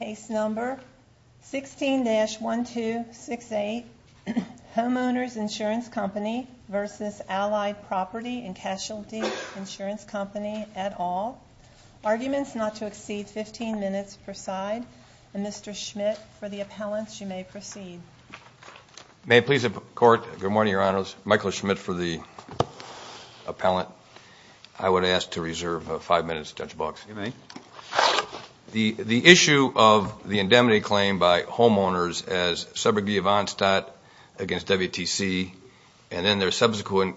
Case number 16-1268, Home-Owners Insurance Company v. Allied Property and Casualty Insurance Company et al. Arguments not to exceed 15 minutes preside. Mr. Schmidt, for the appellants, you may proceed. May it please the Court, good morning, Your Honors. Michael Schmidt for the appellant. I would ask to reserve five minutes, Judge Box. You may. The issue of the indemnity claim by homeowners as subrogate of Onstat against WTC, and then their subsequent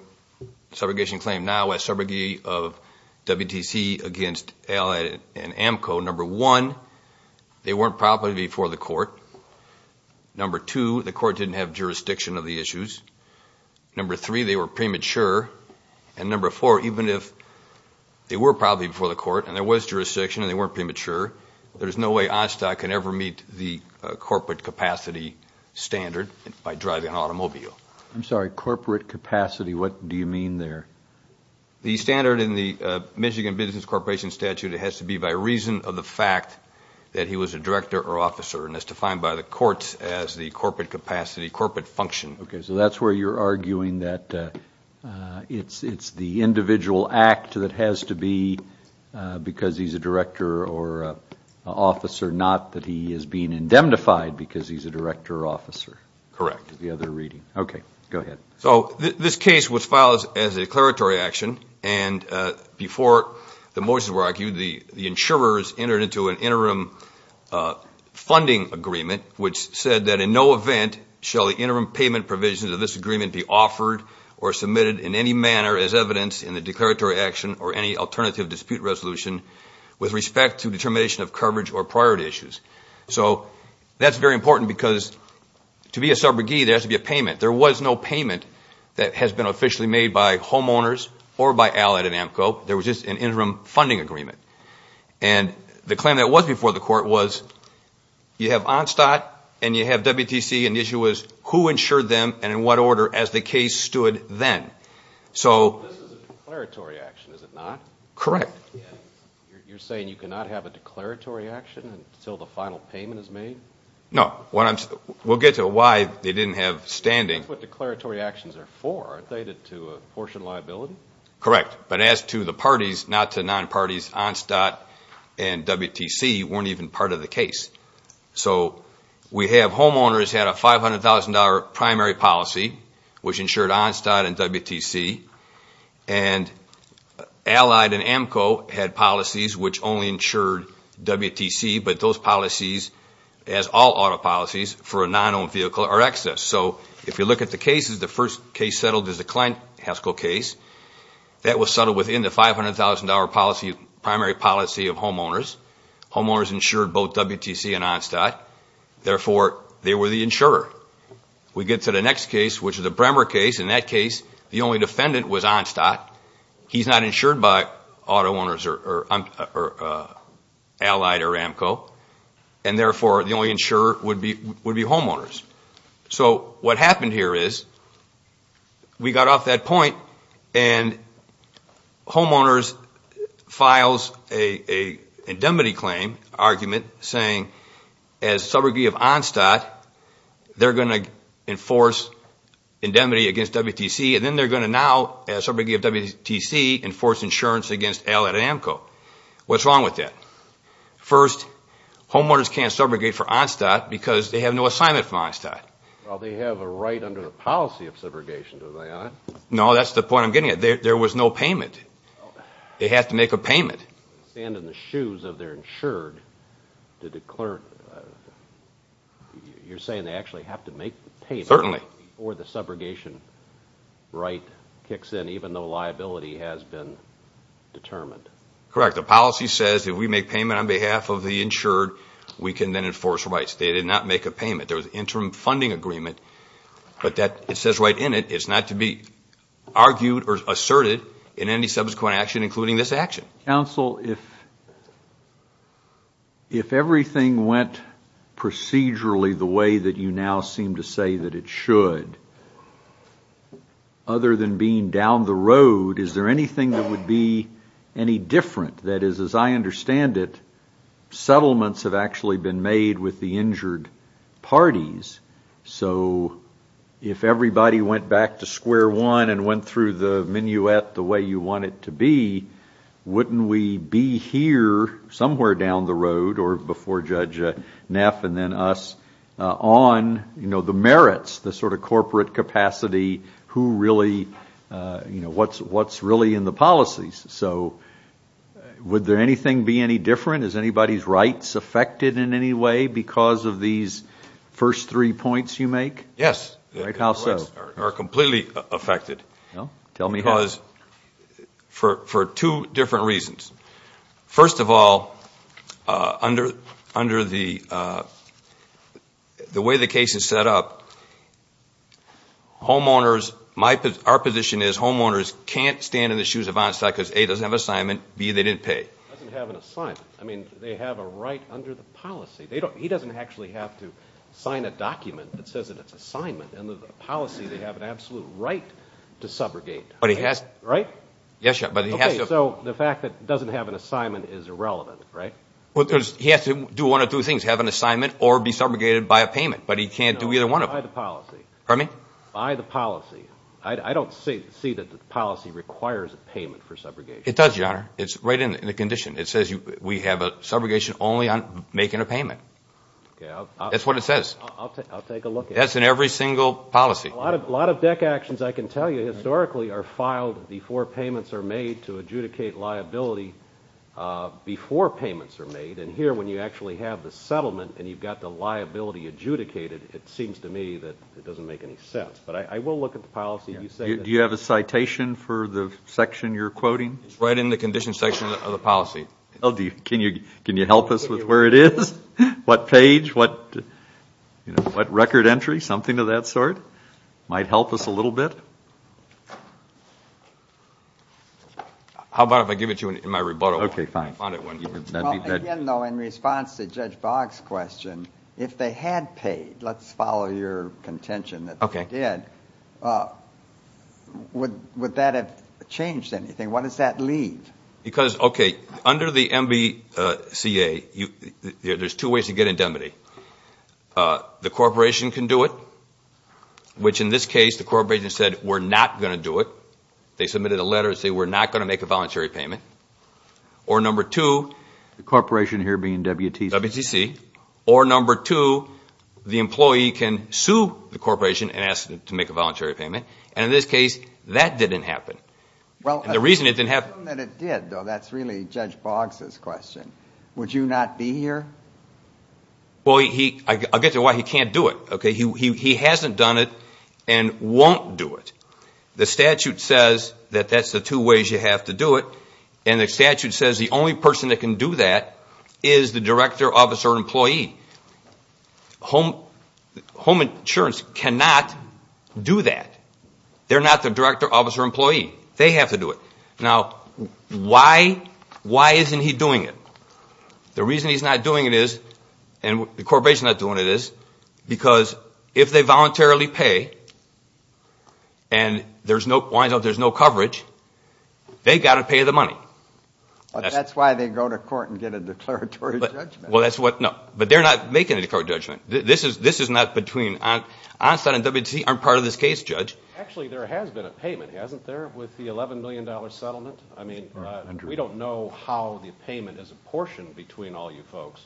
subrogation claim now as subrogate of WTC against Allied and AMCO, number one, they weren't properly before the Court. Number two, the Court didn't have jurisdiction of the issues. Number three, they were premature. And number four, even if they were properly before the Court and there was jurisdiction and they weren't premature, there's no way Onstat can ever meet the corporate capacity standard by driving an automobile. I'm sorry, corporate capacity, what do you mean there? The standard in the Michigan Business Corporation statute, it has to be by reason of the fact that he was a director or officer and is defined by the courts as the corporate capacity, corporate function. Okay, so that's where you're arguing that it's the individual act that has to be because he's a director or officer, not that he is being indemnified because he's a director or officer. Correct. The other reading. Okay, go ahead. So this case was filed as a declaratory action, and before the motions were argued, the insurers entered into an interim funding agreement which said that in no event shall the interim payment provisions of this agreement be offered or submitted in any manner as evidenced in the declaratory action or any alternative dispute resolution with respect to determination of coverage or priority issues. So that's very important because to be a subrogee, there has to be a payment. There was no payment that has been officially made by homeowners or by Allyn and AMCO. There was just an interim funding agreement. And the claim that was before the court was you have Onstat and you have WTC, and the issue was who insured them and in what order as the case stood then. So this is a declaratory action, is it not? Correct. You're saying you cannot have a declaratory action until the final payment is made? No. We'll get to why they didn't have standing. That's what declaratory actions are for, aren't they, to apportion liability? Correct. But as to the parties, not to non-parties, Onstat and WTC weren't even part of the case. So we have homeowners had a $500,000 primary policy which insured Onstat and WTC, and Allyn and AMCO had policies which only insured WTC, but those policies as all auto policies for a non-owned vehicle are excess. So if you look at the cases, the first case settled is the Klein-Haskell case. That was settled within the $500,000 primary policy of homeowners. Homeowners insured both WTC and Onstat. Therefore, they were the insurer. We get to the next case, which is the Bremer case. In that case, the only defendant was Onstat. He's not insured by auto owners or allied or AMCO, and therefore the only insurer would be homeowners. So what happened here is we got off that point, and homeowners filed an indemnity claim argument saying as subrogate of Onstat, they're going to enforce indemnity against WTC, and then they're going to now, as subrogate of WTC, enforce insurance against Allyn and AMCO. What's wrong with that? First, homeowners can't subrogate for Onstat because they have no assignment from Onstat. Well, they have a right under the policy of subrogation, do they not? No, that's the point I'm getting at. There was no payment. They have to make a payment. They stand in the shoes of their insured to declare. You're saying they actually have to make the payment before the subrogation right kicks in, even though liability has been determined. Correct. The policy says if we make payment on behalf of the insured, we can then enforce rights. They did not make a payment. There was an interim funding agreement, but it says right in it, it's not to be argued or asserted in any subsequent action, including this action. Counsel, if everything went procedurally the way that you now seem to say that it should, other than being down the road, is there anything that would be any different? That is, as I understand it, settlements have actually been made with the injured parties. So if everybody went back to square one and went through the minuet the way you want it to be, wouldn't we be here somewhere down the road, or before Judge Neff and then us, on the merits, the sort of corporate capacity, who really, what's really in the policies? So would there anything be any different? Is anybody's rights affected in any way because of these first three points you make? Yes. Right, how so? Our rights are completely affected. Tell me how. For two different reasons. First of all, under the way the case is set up, homeowners, our position is homeowners can't stand in the shoes of Einstein because A, doesn't have an assignment, B, they didn't pay. Doesn't have an assignment. I mean, they have a right under the policy. He doesn't actually have to sign a document that says that it's an assignment. Under the policy, they have an absolute right to subrogate. Right? Yes, but he has to. Okay, so the fact that he doesn't have an assignment is irrelevant, right? He has to do one of two things, have an assignment or be subrogated by a payment, but he can't do either one of them. No, by the policy. Pardon me? By the policy. I don't see that the policy requires a payment for subrogation. It does, Your Honor. It's right in the condition. It says we have a subrogation only on making a payment. That's what it says. I'll take a look at it. That's in every single policy. A lot of DEC actions, I can tell you, historically are filed before payments are made to adjudicate liability before payments are made. And here, when you actually have the settlement and you've got the liability adjudicated, it seems to me that it doesn't make any sense. But I will look at the policy. Do you have a citation for the section you're quoting? It's right in the condition section of the policy. Can you help us with where it is? What page? What record entry? Something of that sort might help us a little bit. How about if I give it to you in my rebuttal? Okay, fine. Again, though, in response to Judge Boggs' question, if they had paid, let's follow your contention that they did, would that have changed anything? What does that leave? Because, okay, under the MVCA, there's two ways to get indemnity. The corporation can do it, which in this case, the corporation said, we're not going to do it. They submitted a letter saying we're not going to make a voluntary payment. Or number two, the corporation here being WTC, or number two, the employee can sue the corporation and ask them to make a voluntary payment. And in this case, that didn't happen. The reason it didn't happen. The reason that it did, though, that's really Judge Boggs' question. Would you not be here? Well, I'll get to why he can't do it. He hasn't done it and won't do it. The statute says that that's the two ways you have to do it. And the statute says the only person that can do that is the director, officer, employee. Home insurance cannot do that. They're not the director, officer, employee. They have to do it. Now, why isn't he doing it? The reason he's not doing it is, and the corporation's not doing it is, because if they voluntarily pay and there's no coverage, they've got to pay the money. But that's why they go to court and get a declaratory judgment. Well, that's what, no. But they're not making a declaratory judgment. This is not between, Onstant and WTC aren't part of this case, Judge. Actually, there has been a payment, hasn't there, with the $11 million settlement? I mean, we don't know how the payment is apportioned between all you folks.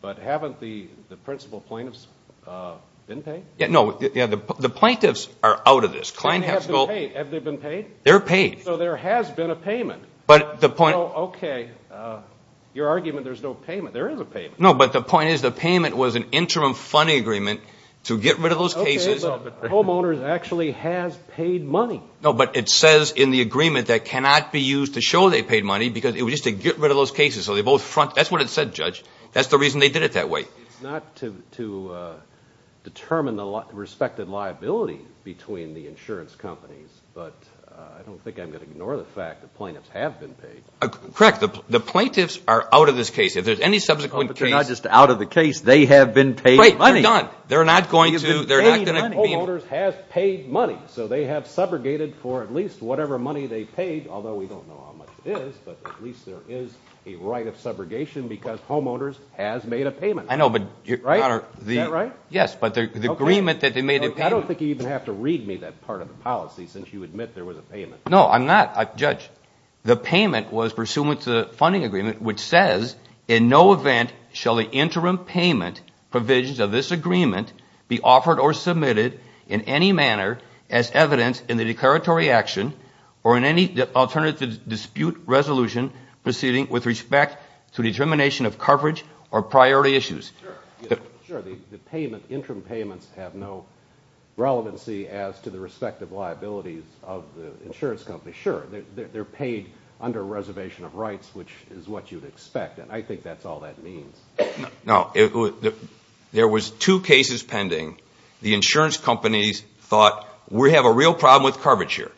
But haven't the principal plaintiffs been paid? No. The plaintiffs are out of this. Have they been paid? They're paid. So there has been a payment. Okay. Your argument, there's no payment. There is a payment. No, but the point is the payment was an interim funding agreement to get rid of those cases. Well, but homeowners actually has paid money. No, but it says in the agreement that cannot be used to show they paid money because it was just to get rid of those cases. So they both front. That's what it said, Judge. That's the reason they did it that way. It's not to determine the respected liability between the insurance companies, but I don't think I'm going to ignore the fact that plaintiffs have been paid. Correct. The plaintiffs are out of this case. If there's any subsequent case. They're not just out of the case. They have been paid money. Right. They're done. They're not going to. Homeowners has paid money, so they have subrogated for at least whatever money they paid, although we don't know how much it is, but at least there is a right of subrogation because homeowners has made a payment. I know, but, Your Honor. Is that right? Yes, but the agreement that they made a payment. I don't think you even have to read me that part of the policy since you admit there was a payment. No, I'm not, Judge. The payment was pursuant to the funding agreement, which says, in no event shall the interim payment provisions of this agreement be offered or submitted in any manner as evidence in the declaratory action or in any alternative dispute resolution proceeding with respect to determination of coverage or priority issues. Sure, the interim payments have no relevancy as to the respective liabilities of the insurance companies. Sure, they're paid under reservation of rights, which is what you'd expect, and I think that's all that means. No, there was two cases pending. The insurance companies thought, we have a real problem with coverage here,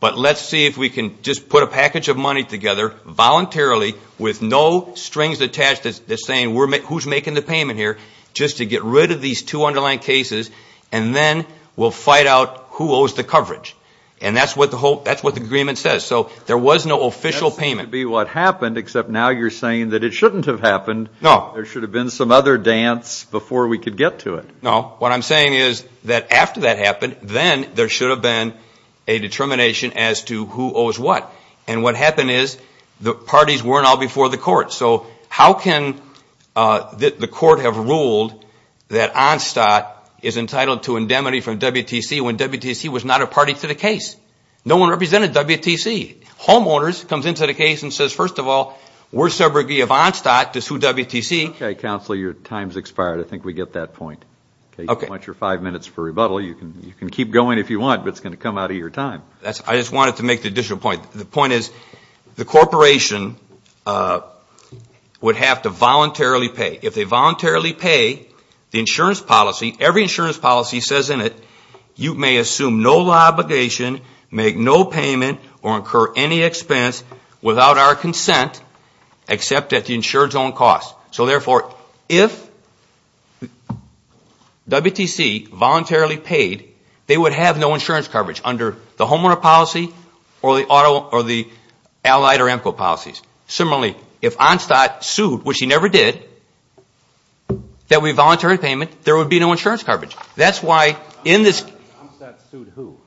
but let's see if we can just put a package of money together voluntarily with no strings attached that's saying who's making the payment here just to get rid of these two underlying cases, and then we'll fight out who owes the coverage. And that's what the agreement says. So there was no official payment. That seems to be what happened, except now you're saying that it shouldn't have happened. No. There should have been some other dance before we could get to it. No. What I'm saying is that after that happened, then there should have been a determination as to who owes what. And what happened is the parties weren't all before the court. So how can the court have ruled that Onstat is entitled to indemnity from WTC when WTC was not a party to the case? No one represented WTC. Homeowners comes into the case and says, first of all, we're subrogate of Onstat to sue WTC. Okay, Counselor, your time's expired. I think we get that point. Okay. You can watch your five minutes for rebuttal. You can keep going if you want, but it's going to come out of your time. I just wanted to make the additional point. The point is the corporation would have to voluntarily pay. If they voluntarily pay, the insurance policy, every insurance policy says in it you may assume no obligation, make no payment, or incur any expense without our consent except at the insured zone cost. So, therefore, if WTC voluntarily paid, they would have no insurance coverage under the homeowner policy or the allied or AMCO policies. Similarly, if Onstat sued, which he never did, that we voluntarily payment, there would be no insurance coverage. That's why in this – Onstat sued who?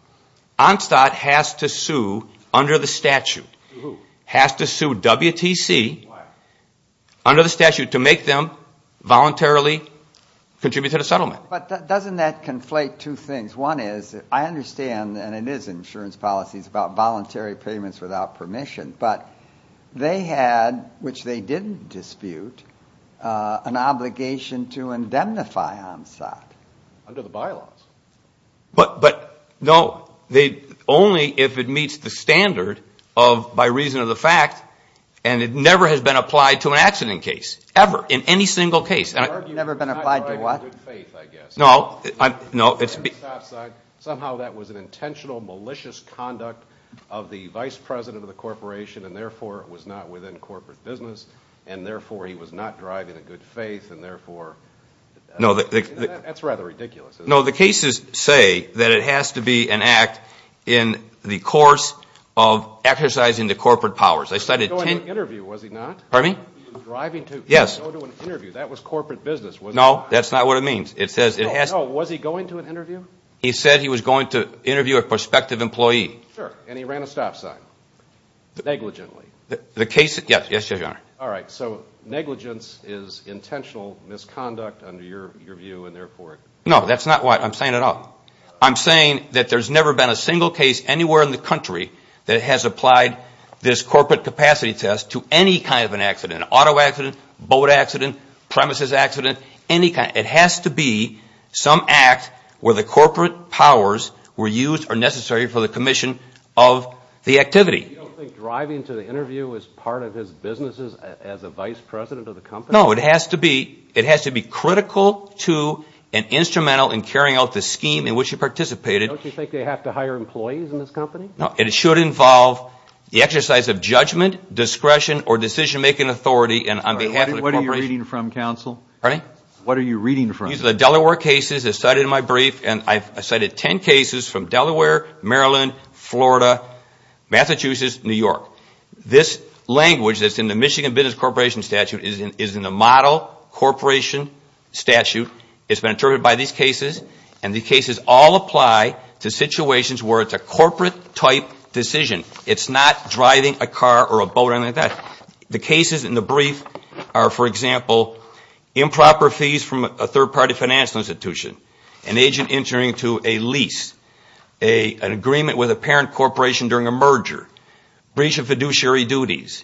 Onstat has to sue under the statute. Has to sue WTC. Why? Under the statute to make them voluntarily contribute to the settlement. But doesn't that conflate two things? One is I understand, and it is insurance policies about voluntary payments without permission, but they had, which they didn't dispute, an obligation to indemnify Onstat. Under the bylaws. But, no, only if it meets the standard of by reason of the fact, and it never has been applied to an accident case, ever, in any single case. Never been applied to what? Good faith, I guess. No. Somehow that was an intentional malicious conduct of the vice president of the corporation, and, therefore, it was not within corporate business, and, therefore, he was not driving a good faith, and, therefore, that's rather ridiculous. No, the cases say that it has to be an act in the course of exercising the corporate powers. He wasn't going to an interview, was he not? Pardon me? He was driving to an interview. Yes. That was corporate business, wasn't it? No, that's not what it means. No, was he going to an interview? He said he was going to interview a prospective employee. Sure, and he ran a stop sign. Negligently. The case – yes, yes, Your Honor. All right, so negligence is intentional misconduct under your view, and, therefore – No, that's not what I'm saying at all. I'm saying that there's never been a single case anywhere in the country that has applied this corporate capacity test to any kind of an accident, an auto accident, boat accident, premises accident, any kind. It has to be some act where the corporate powers were used or necessary for the commission of the activity. You don't think driving to the interview was part of his business as a vice president of the company? No, it has to be. It has to be critical to and instrumental in carrying out the scheme in which he participated. Don't you think they have to hire employees in this company? No, it should involve the exercise of judgment, discretion, or decision-making authority on behalf of the corporation. What are you reading from, counsel? Pardon me? What are you reading from? These are the Delaware cases cited in my brief, and I've cited 10 cases from Delaware, Maryland, Florida, Massachusetts, New York. This language that's in the Michigan Business Corporation statute is in the model corporation statute. It's been interpreted by these cases, and these cases all apply to situations where it's a corporate-type decision. It's not driving a car or a boat or anything like that. The cases in the brief are, for example, improper fees from a third-party financial institution, an agent entering into a lease, an agreement with a parent corporation during a merger, breach of fiduciary duties,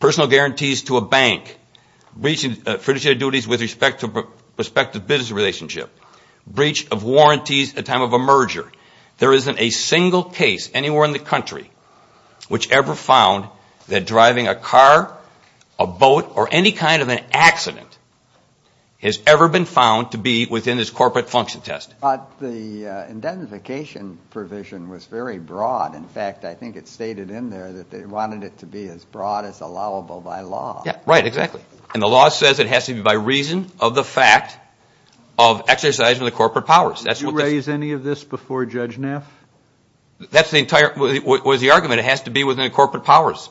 personal guarantees to a bank, breach of fiduciary duties with respect to business relationship, breach of warranties at time of a merger. There isn't a single case anywhere in the country which ever found that driving a car, a boat, or any kind of an accident has ever been found to be within this corporate function test. But the identification provision was very broad. In fact, I think it's stated in there that they wanted it to be as broad as allowable by law. Right, exactly. And the law says it has to be by reason of the fact of exercising the corporate powers. Did you raise any of this before Judge Neff? That's the entire argument. It has to be within the corporate powers.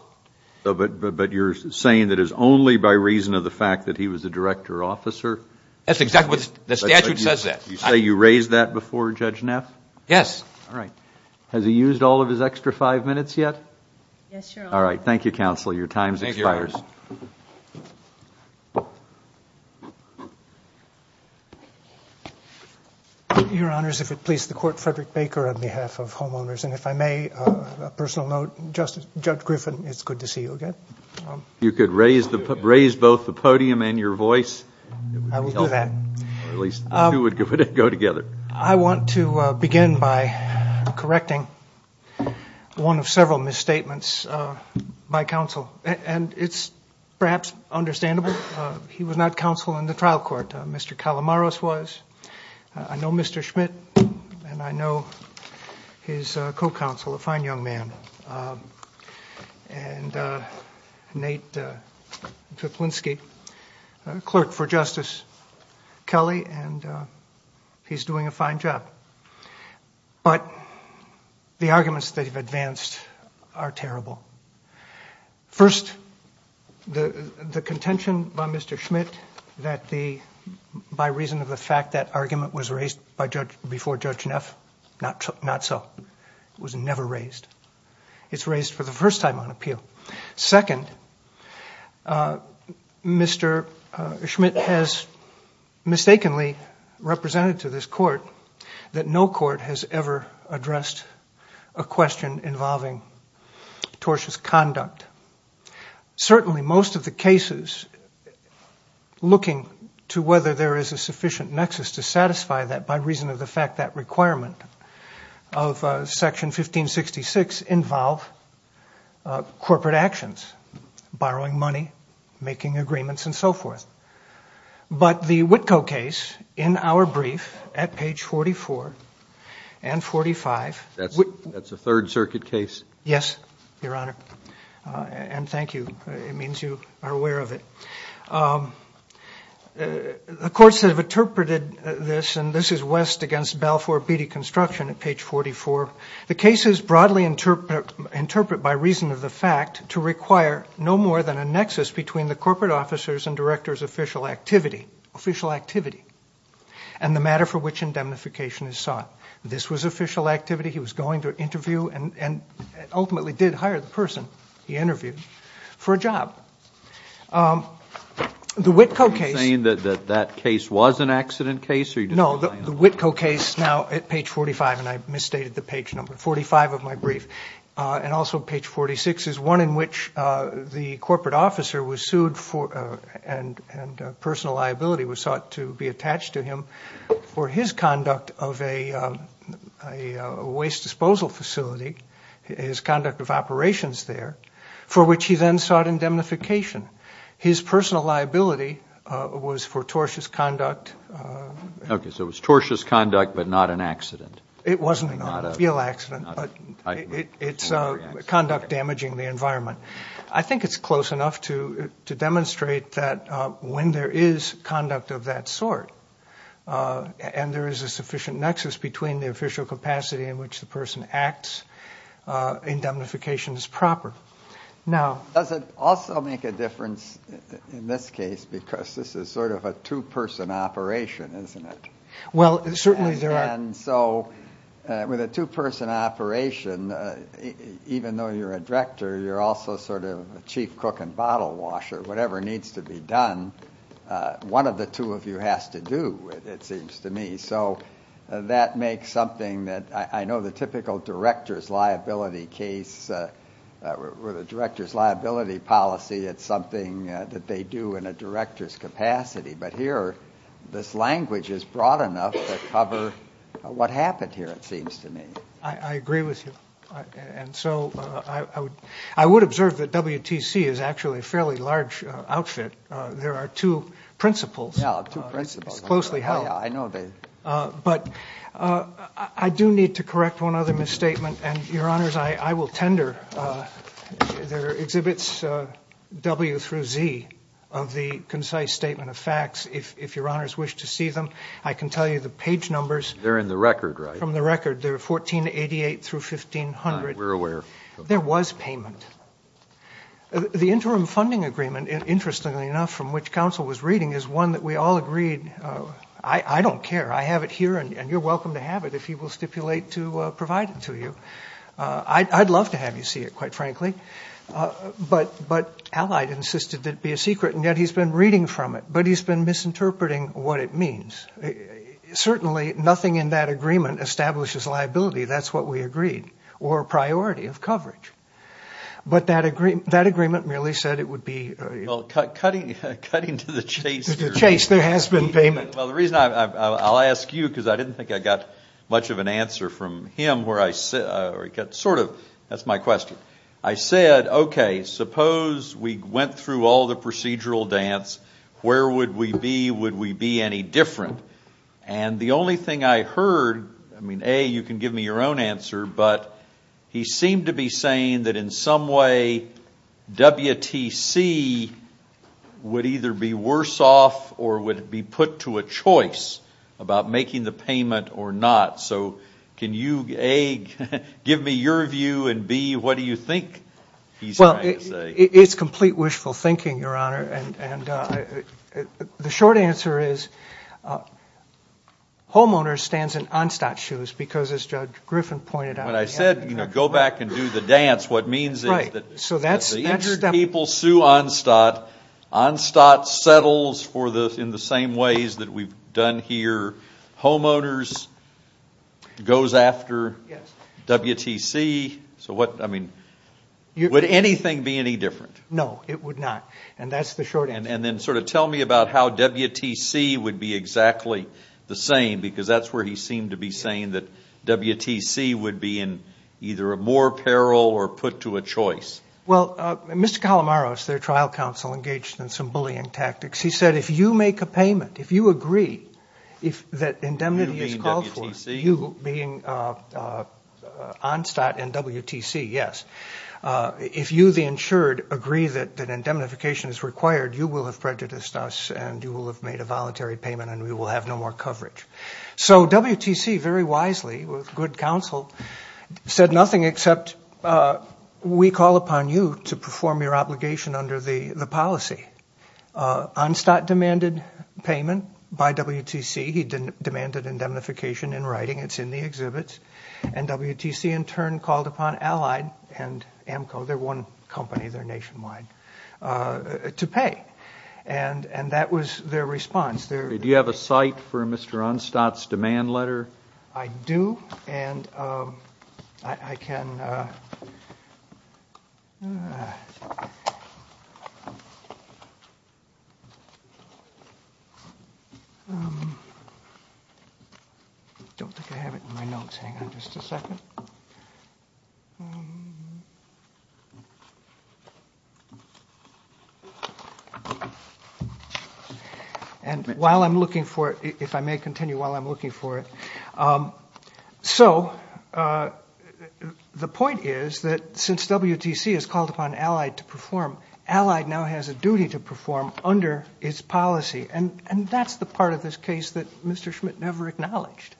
But you're saying that it's only by reason of the fact that he was a director officer? That's exactly what the statute says. You say you raised that before Judge Neff? Yes. All right. Has he used all of his extra five minutes yet? Yes, Your Honor. All right. Thank you, Counsel. Your time expires. Thank you, Your Honor. Your Honors, if it please the Court, Frederick Baker on behalf of homeowners. And if I may, a personal note, Judge Griffin, it's good to see you again. You could raise both the podium and your voice. I will do that. Or at least the two would go together. I want to begin by correcting one of several misstatements by counsel. And it's perhaps understandable. He was not counsel in the trial court. Mr. Calamaros was. I know Mr. Schmidt, and I know his co-counsel, a fine young man. And Nate Tiplinski, clerk for Justice Kelly, and he's doing a fine job. But the arguments that have advanced are terrible. First, the contention by Mr. Schmidt that by reason of the fact that argument was raised before Judge Neff, not so. It was never raised. It's raised for the first time on appeal. Second, Mr. Schmidt has mistakenly represented to this court that no court has ever addressed a question involving tortious conduct. Certainly most of the cases looking to whether there is a sufficient nexus to satisfy that by reason of the fact that requirement of section 1566 involve corporate actions, borrowing money, making agreements, and so forth. But the Witko case in our brief at page 44 and 45. That's a Third Circuit case? Yes, Your Honor. And thank you. It means you are aware of it. The courts have interpreted this, and this is West against Balfour Beatty Construction at page 44. The case is broadly interpreted by reason of the fact to require no more than a nexus between the corporate officers and directors' official activity. Official activity. And the matter for which indemnification is sought. This was official activity. He was going to interview and ultimately did hire the person he interviewed for a job. The Witko case. Are you saying that that case was an accident case? No, the Witko case now at page 45. And I've misstated the page number. 45 of my brief. And also page 46 is one in which the corporate officer was sued and personal liability was sought to be attached to him for his conduct of a waste disposal facility, his conduct of operations there, for which he then sought indemnification. His personal liability was for tortious conduct. Okay, so it was tortious conduct but not an accident. It wasn't a real accident, but it's conduct damaging the environment. I think it's close enough to demonstrate that when there is conduct of that sort and there is a sufficient nexus between the official capacity in which the person acts, indemnification is proper. Does it also make a difference in this case because this is sort of a two-person operation, isn't it? Well, certainly there are. And so with a two-person operation, even though you're a director, you're also sort of a chief cook and bottle washer. Whatever needs to be done, one of the two of you has to do, it seems to me. So that makes something that I know the typical director's liability case or the director's liability policy, it's something that they do in a director's capacity. But here this language is broad enough to cover what happened here, it seems to me. I agree with you. And so I would observe that WTC is actually a fairly large outfit. There are two principles. Yeah, two principles. It's closely held. Yeah, I know. But I do need to correct one other misstatement. And, Your Honors, I will tender. There are exhibits W through Z of the concise statement of facts. If Your Honors wish to see them, I can tell you the page numbers. They're in the record, right? From the record. They're 1488 through 1500. We're aware. There was payment. The interim funding agreement, interestingly enough, from which counsel was reading, is one that we all agreed, I don't care. I have it here, and you're welcome to have it if he will stipulate to provide it to you. I'd love to have you see it, quite frankly. But Allied insisted it be a secret, and yet he's been reading from it. But he's been misinterpreting what it means. Certainly nothing in that agreement establishes liability. That's what we agreed. Or a priority of coverage. But that agreement merely said it would be. Well, cutting to the chase. To the chase. There has been payment. Well, the reason I'll ask you, because I didn't think I got much of an answer from him. That's my question. I said, okay, suppose we went through all the procedural dance. Where would we be? Would we be any different? And the only thing I heard, I mean, A, you can give me your own answer, but he seemed to be saying that in some way WTC would either be worse off or would be put to a choice about making the payment or not. So can you, A, give me your view, and, B, what do you think he's trying to say? Well, it's complete wishful thinking, Your Honor. The short answer is homeowners stands in Onstott's shoes, because as Judge Griffin pointed out. When I said, you know, go back and do the dance, what it means is that the injured people sue Onstott. Onstott settles in the same ways that we've done here. Homeowners goes after WTC. So what, I mean, would anything be any different? No, it would not. And that's the short answer. And then sort of tell me about how WTC would be exactly the same, because that's where he seemed to be saying that WTC would be in either more peril or put to a choice. Well, Mr. Calamaros, their trial counsel, engaged in some bullying tactics. He said if you make a payment, if you agree that indemnity is called for, you being Onstott and WTC, yes, if you, the insured, agree that indemnification is required, you will have prejudiced us and you will have made a voluntary payment and we will have no more coverage. So WTC very wisely, with good counsel, said nothing except we call upon you to perform your obligation under the policy. Onstott demanded payment by WTC. He demanded indemnification in writing. It's in the exhibits. And WTC, in turn, called upon Allied and AMCO, their one company, their nationwide, to pay. And that was their response. Do you have a cite for Mr. Onstott's demand letter? I do. And I can... I don't think I have it in my notes. Hang on just a second. And while I'm looking for it, if I may continue while I'm looking for it. So the point is that since WTC has called upon Allied to perform, Allied now has a duty to perform under its policy. And that's the part of this case that Mr. Schmidt never acknowledged.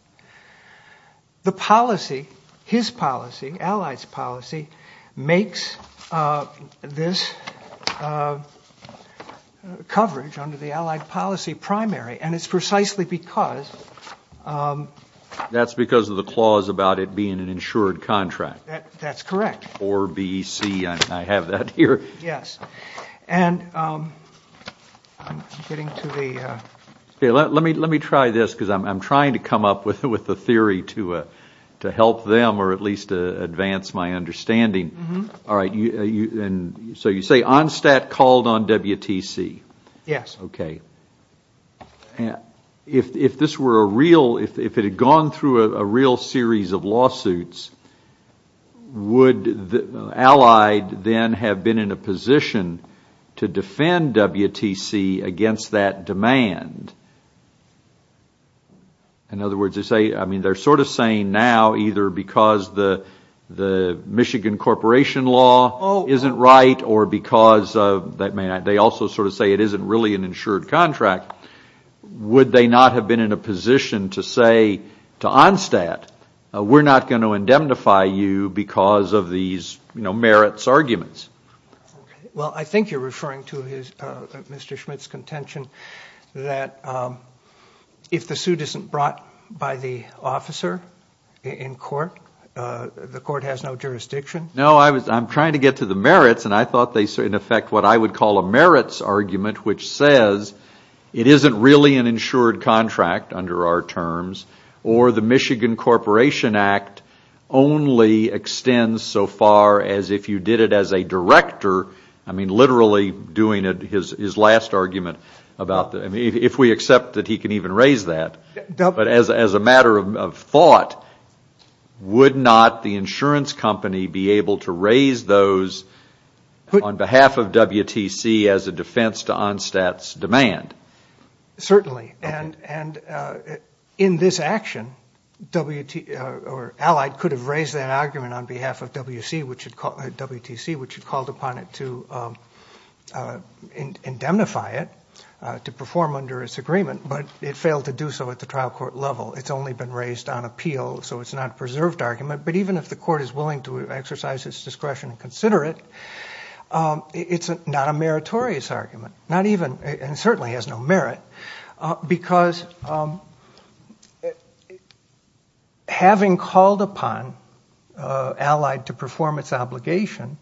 The policy, his policy, Allied's policy, makes this coverage under the Allied policy primary. And it's precisely because... That's because of the clause about it being an insured contract. That's correct. Or BEC, I have that here. Yes. And I'm getting to the... Let me try this because I'm trying to come up with a theory to help them or at least advance my understanding. All right. So you say Onstott called on WTC. Yes. Okay. If this were a real... If it had gone through a real series of lawsuits, would Allied then have been in a position to defend WTC against that demand? In other words, they say... I mean, they're sort of saying now either because the Michigan Corporation law isn't right or because of... They also sort of say it isn't really an insured contract. Would they not have been in a position to say to Onstott, we're not going to indemnify you because of these merits arguments? Well, I think you're referring to Mr. Schmidt's contention that if the suit isn't brought by the officer in court, the court has no jurisdiction. No, I'm trying to get to the merits, and I thought they said in effect what I would call a merits argument, which says it isn't really an insured contract under our terms or the Michigan Corporation Act only extends so far as if you did it as a director. I mean, literally doing his last argument about that. If we accept that he can even raise that. But as a matter of thought, would not the insurance company be able to raise those on behalf of WTC as a defense to Onstott's demand? Certainly, and in this action, Allied could have raised that argument on behalf of WTC, which had called upon it to indemnify it to perform under its agreement, but it failed to do so at the trial court level. It's only been raised on appeal, so it's not a preserved argument, but even if the court is willing to exercise its discretion to consider it, it's not a meritorious argument, and certainly has no merit, because having called upon Allied to perform its obligation,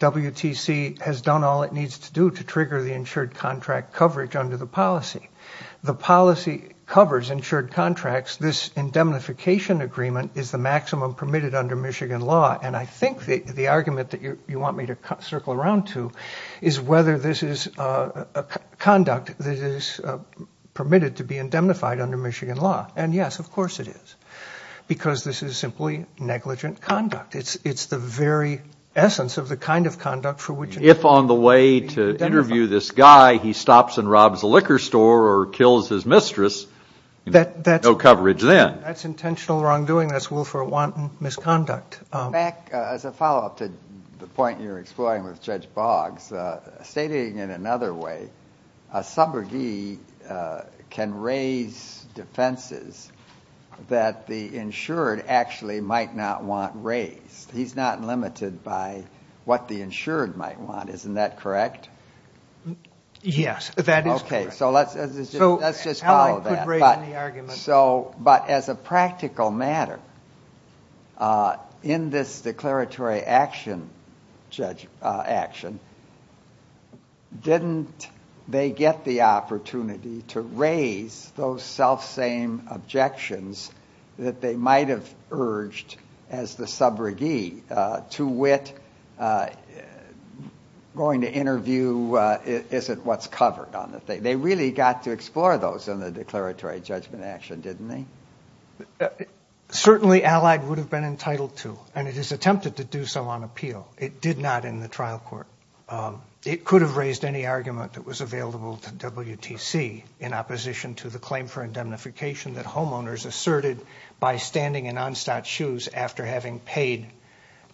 WTC has done all it needs to do to trigger the insured contract coverage under the policy. The policy covers insured contracts. This indemnification agreement is the maximum permitted under Michigan law, and I think the argument that you want me to circle around to is whether this is a conduct that is permitted to be indemnified under Michigan law, and yes, of course it is, because this is simply negligent conduct. It's the very essence of the kind of conduct for which it may be indemnified. He stops and robs a liquor store or kills his mistress. No coverage then. That's intentional wrongdoing. That's willful or wanton misconduct. Back as a follow-up to the point you were exploring with Judge Boggs, stating in another way a subrogee can raise defenses that the insured actually might not want raised. He's not limited by what the insured might want. Isn't that correct? Yes, that is correct. Let's just follow that. But as a practical matter, in this declaratory action, didn't they get the opportunity to raise those selfsame objections that they might have urged as the subrogee, to wit, going to interview isn't what's covered? They really got to explore those in the declaratory judgment action, didn't they? Certainly Allied would have been entitled to, and it has attempted to do so on appeal. It did not in the trial court. It could have raised any argument that was available to WTC in opposition to the claim for indemnification that homeowners asserted by standing in Onstat's shoes after having paid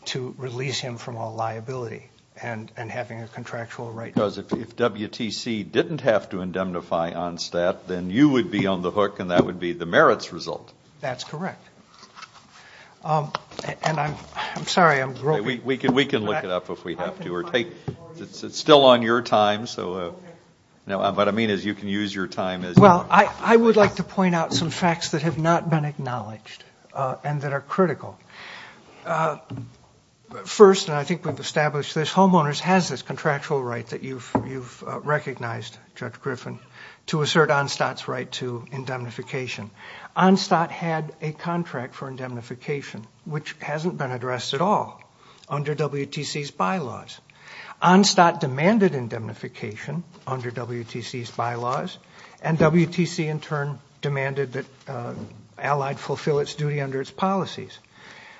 to release him from all liability and having a contractual right. Because if WTC didn't have to indemnify Onstat, then you would be on the hook and that would be the merits result. That's correct. And I'm sorry, I'm groping. We can look it up if we have to. It's still on your time. What I mean is you can use your time. Well, I would like to point out some facts that have not been acknowledged and that are critical. First, and I think we've established this, homeowners has this contractual right that you've recognized, Judge Griffin, to assert Onstat's right to indemnification. Onstat had a contract for indemnification, which hasn't been addressed at all under WTC's bylaws. Onstat demanded indemnification under WTC's bylaws, and WTC in turn demanded that Allied fulfill its duty under its policies.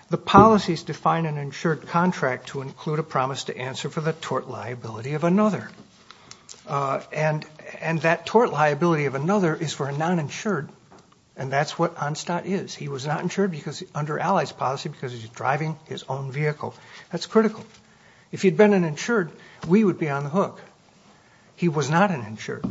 The policies define an insured contract to include a promise to answer for the tort liability of another. And that tort liability of another is for a non-insured, and that's what Onstat is. He was not insured under Allied's policy because he's driving his own vehicle. That's critical. If he'd been an insured, we would be on the hook. He was not an insured.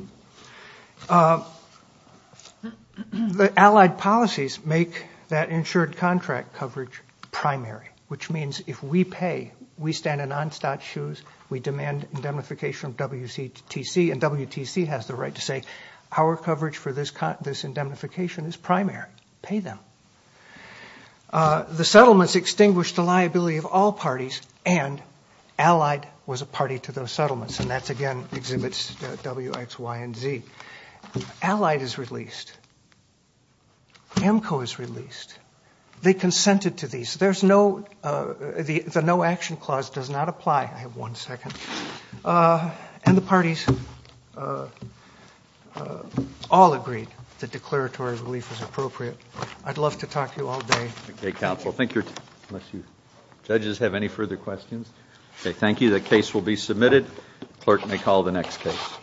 Allied policies make that insured contract coverage primary, which means if we pay, we stand in Onstat's shoes, we demand indemnification from WTC, and WTC has the right to say our coverage for this indemnification is primary. Pay them. The settlements extinguished the liability of all parties, and Allied was a party to those settlements, and that again exhibits W, X, Y, and Z. Allied is released. AMCO is released. They consented to these. The no action clause does not apply. I have one second. And the parties all agreed that declaratory relief was appropriate. I'd love to talk to you all day. Okay, counsel. Judges have any further questions? Okay, thank you. The case will be submitted. Clerk may call the next case.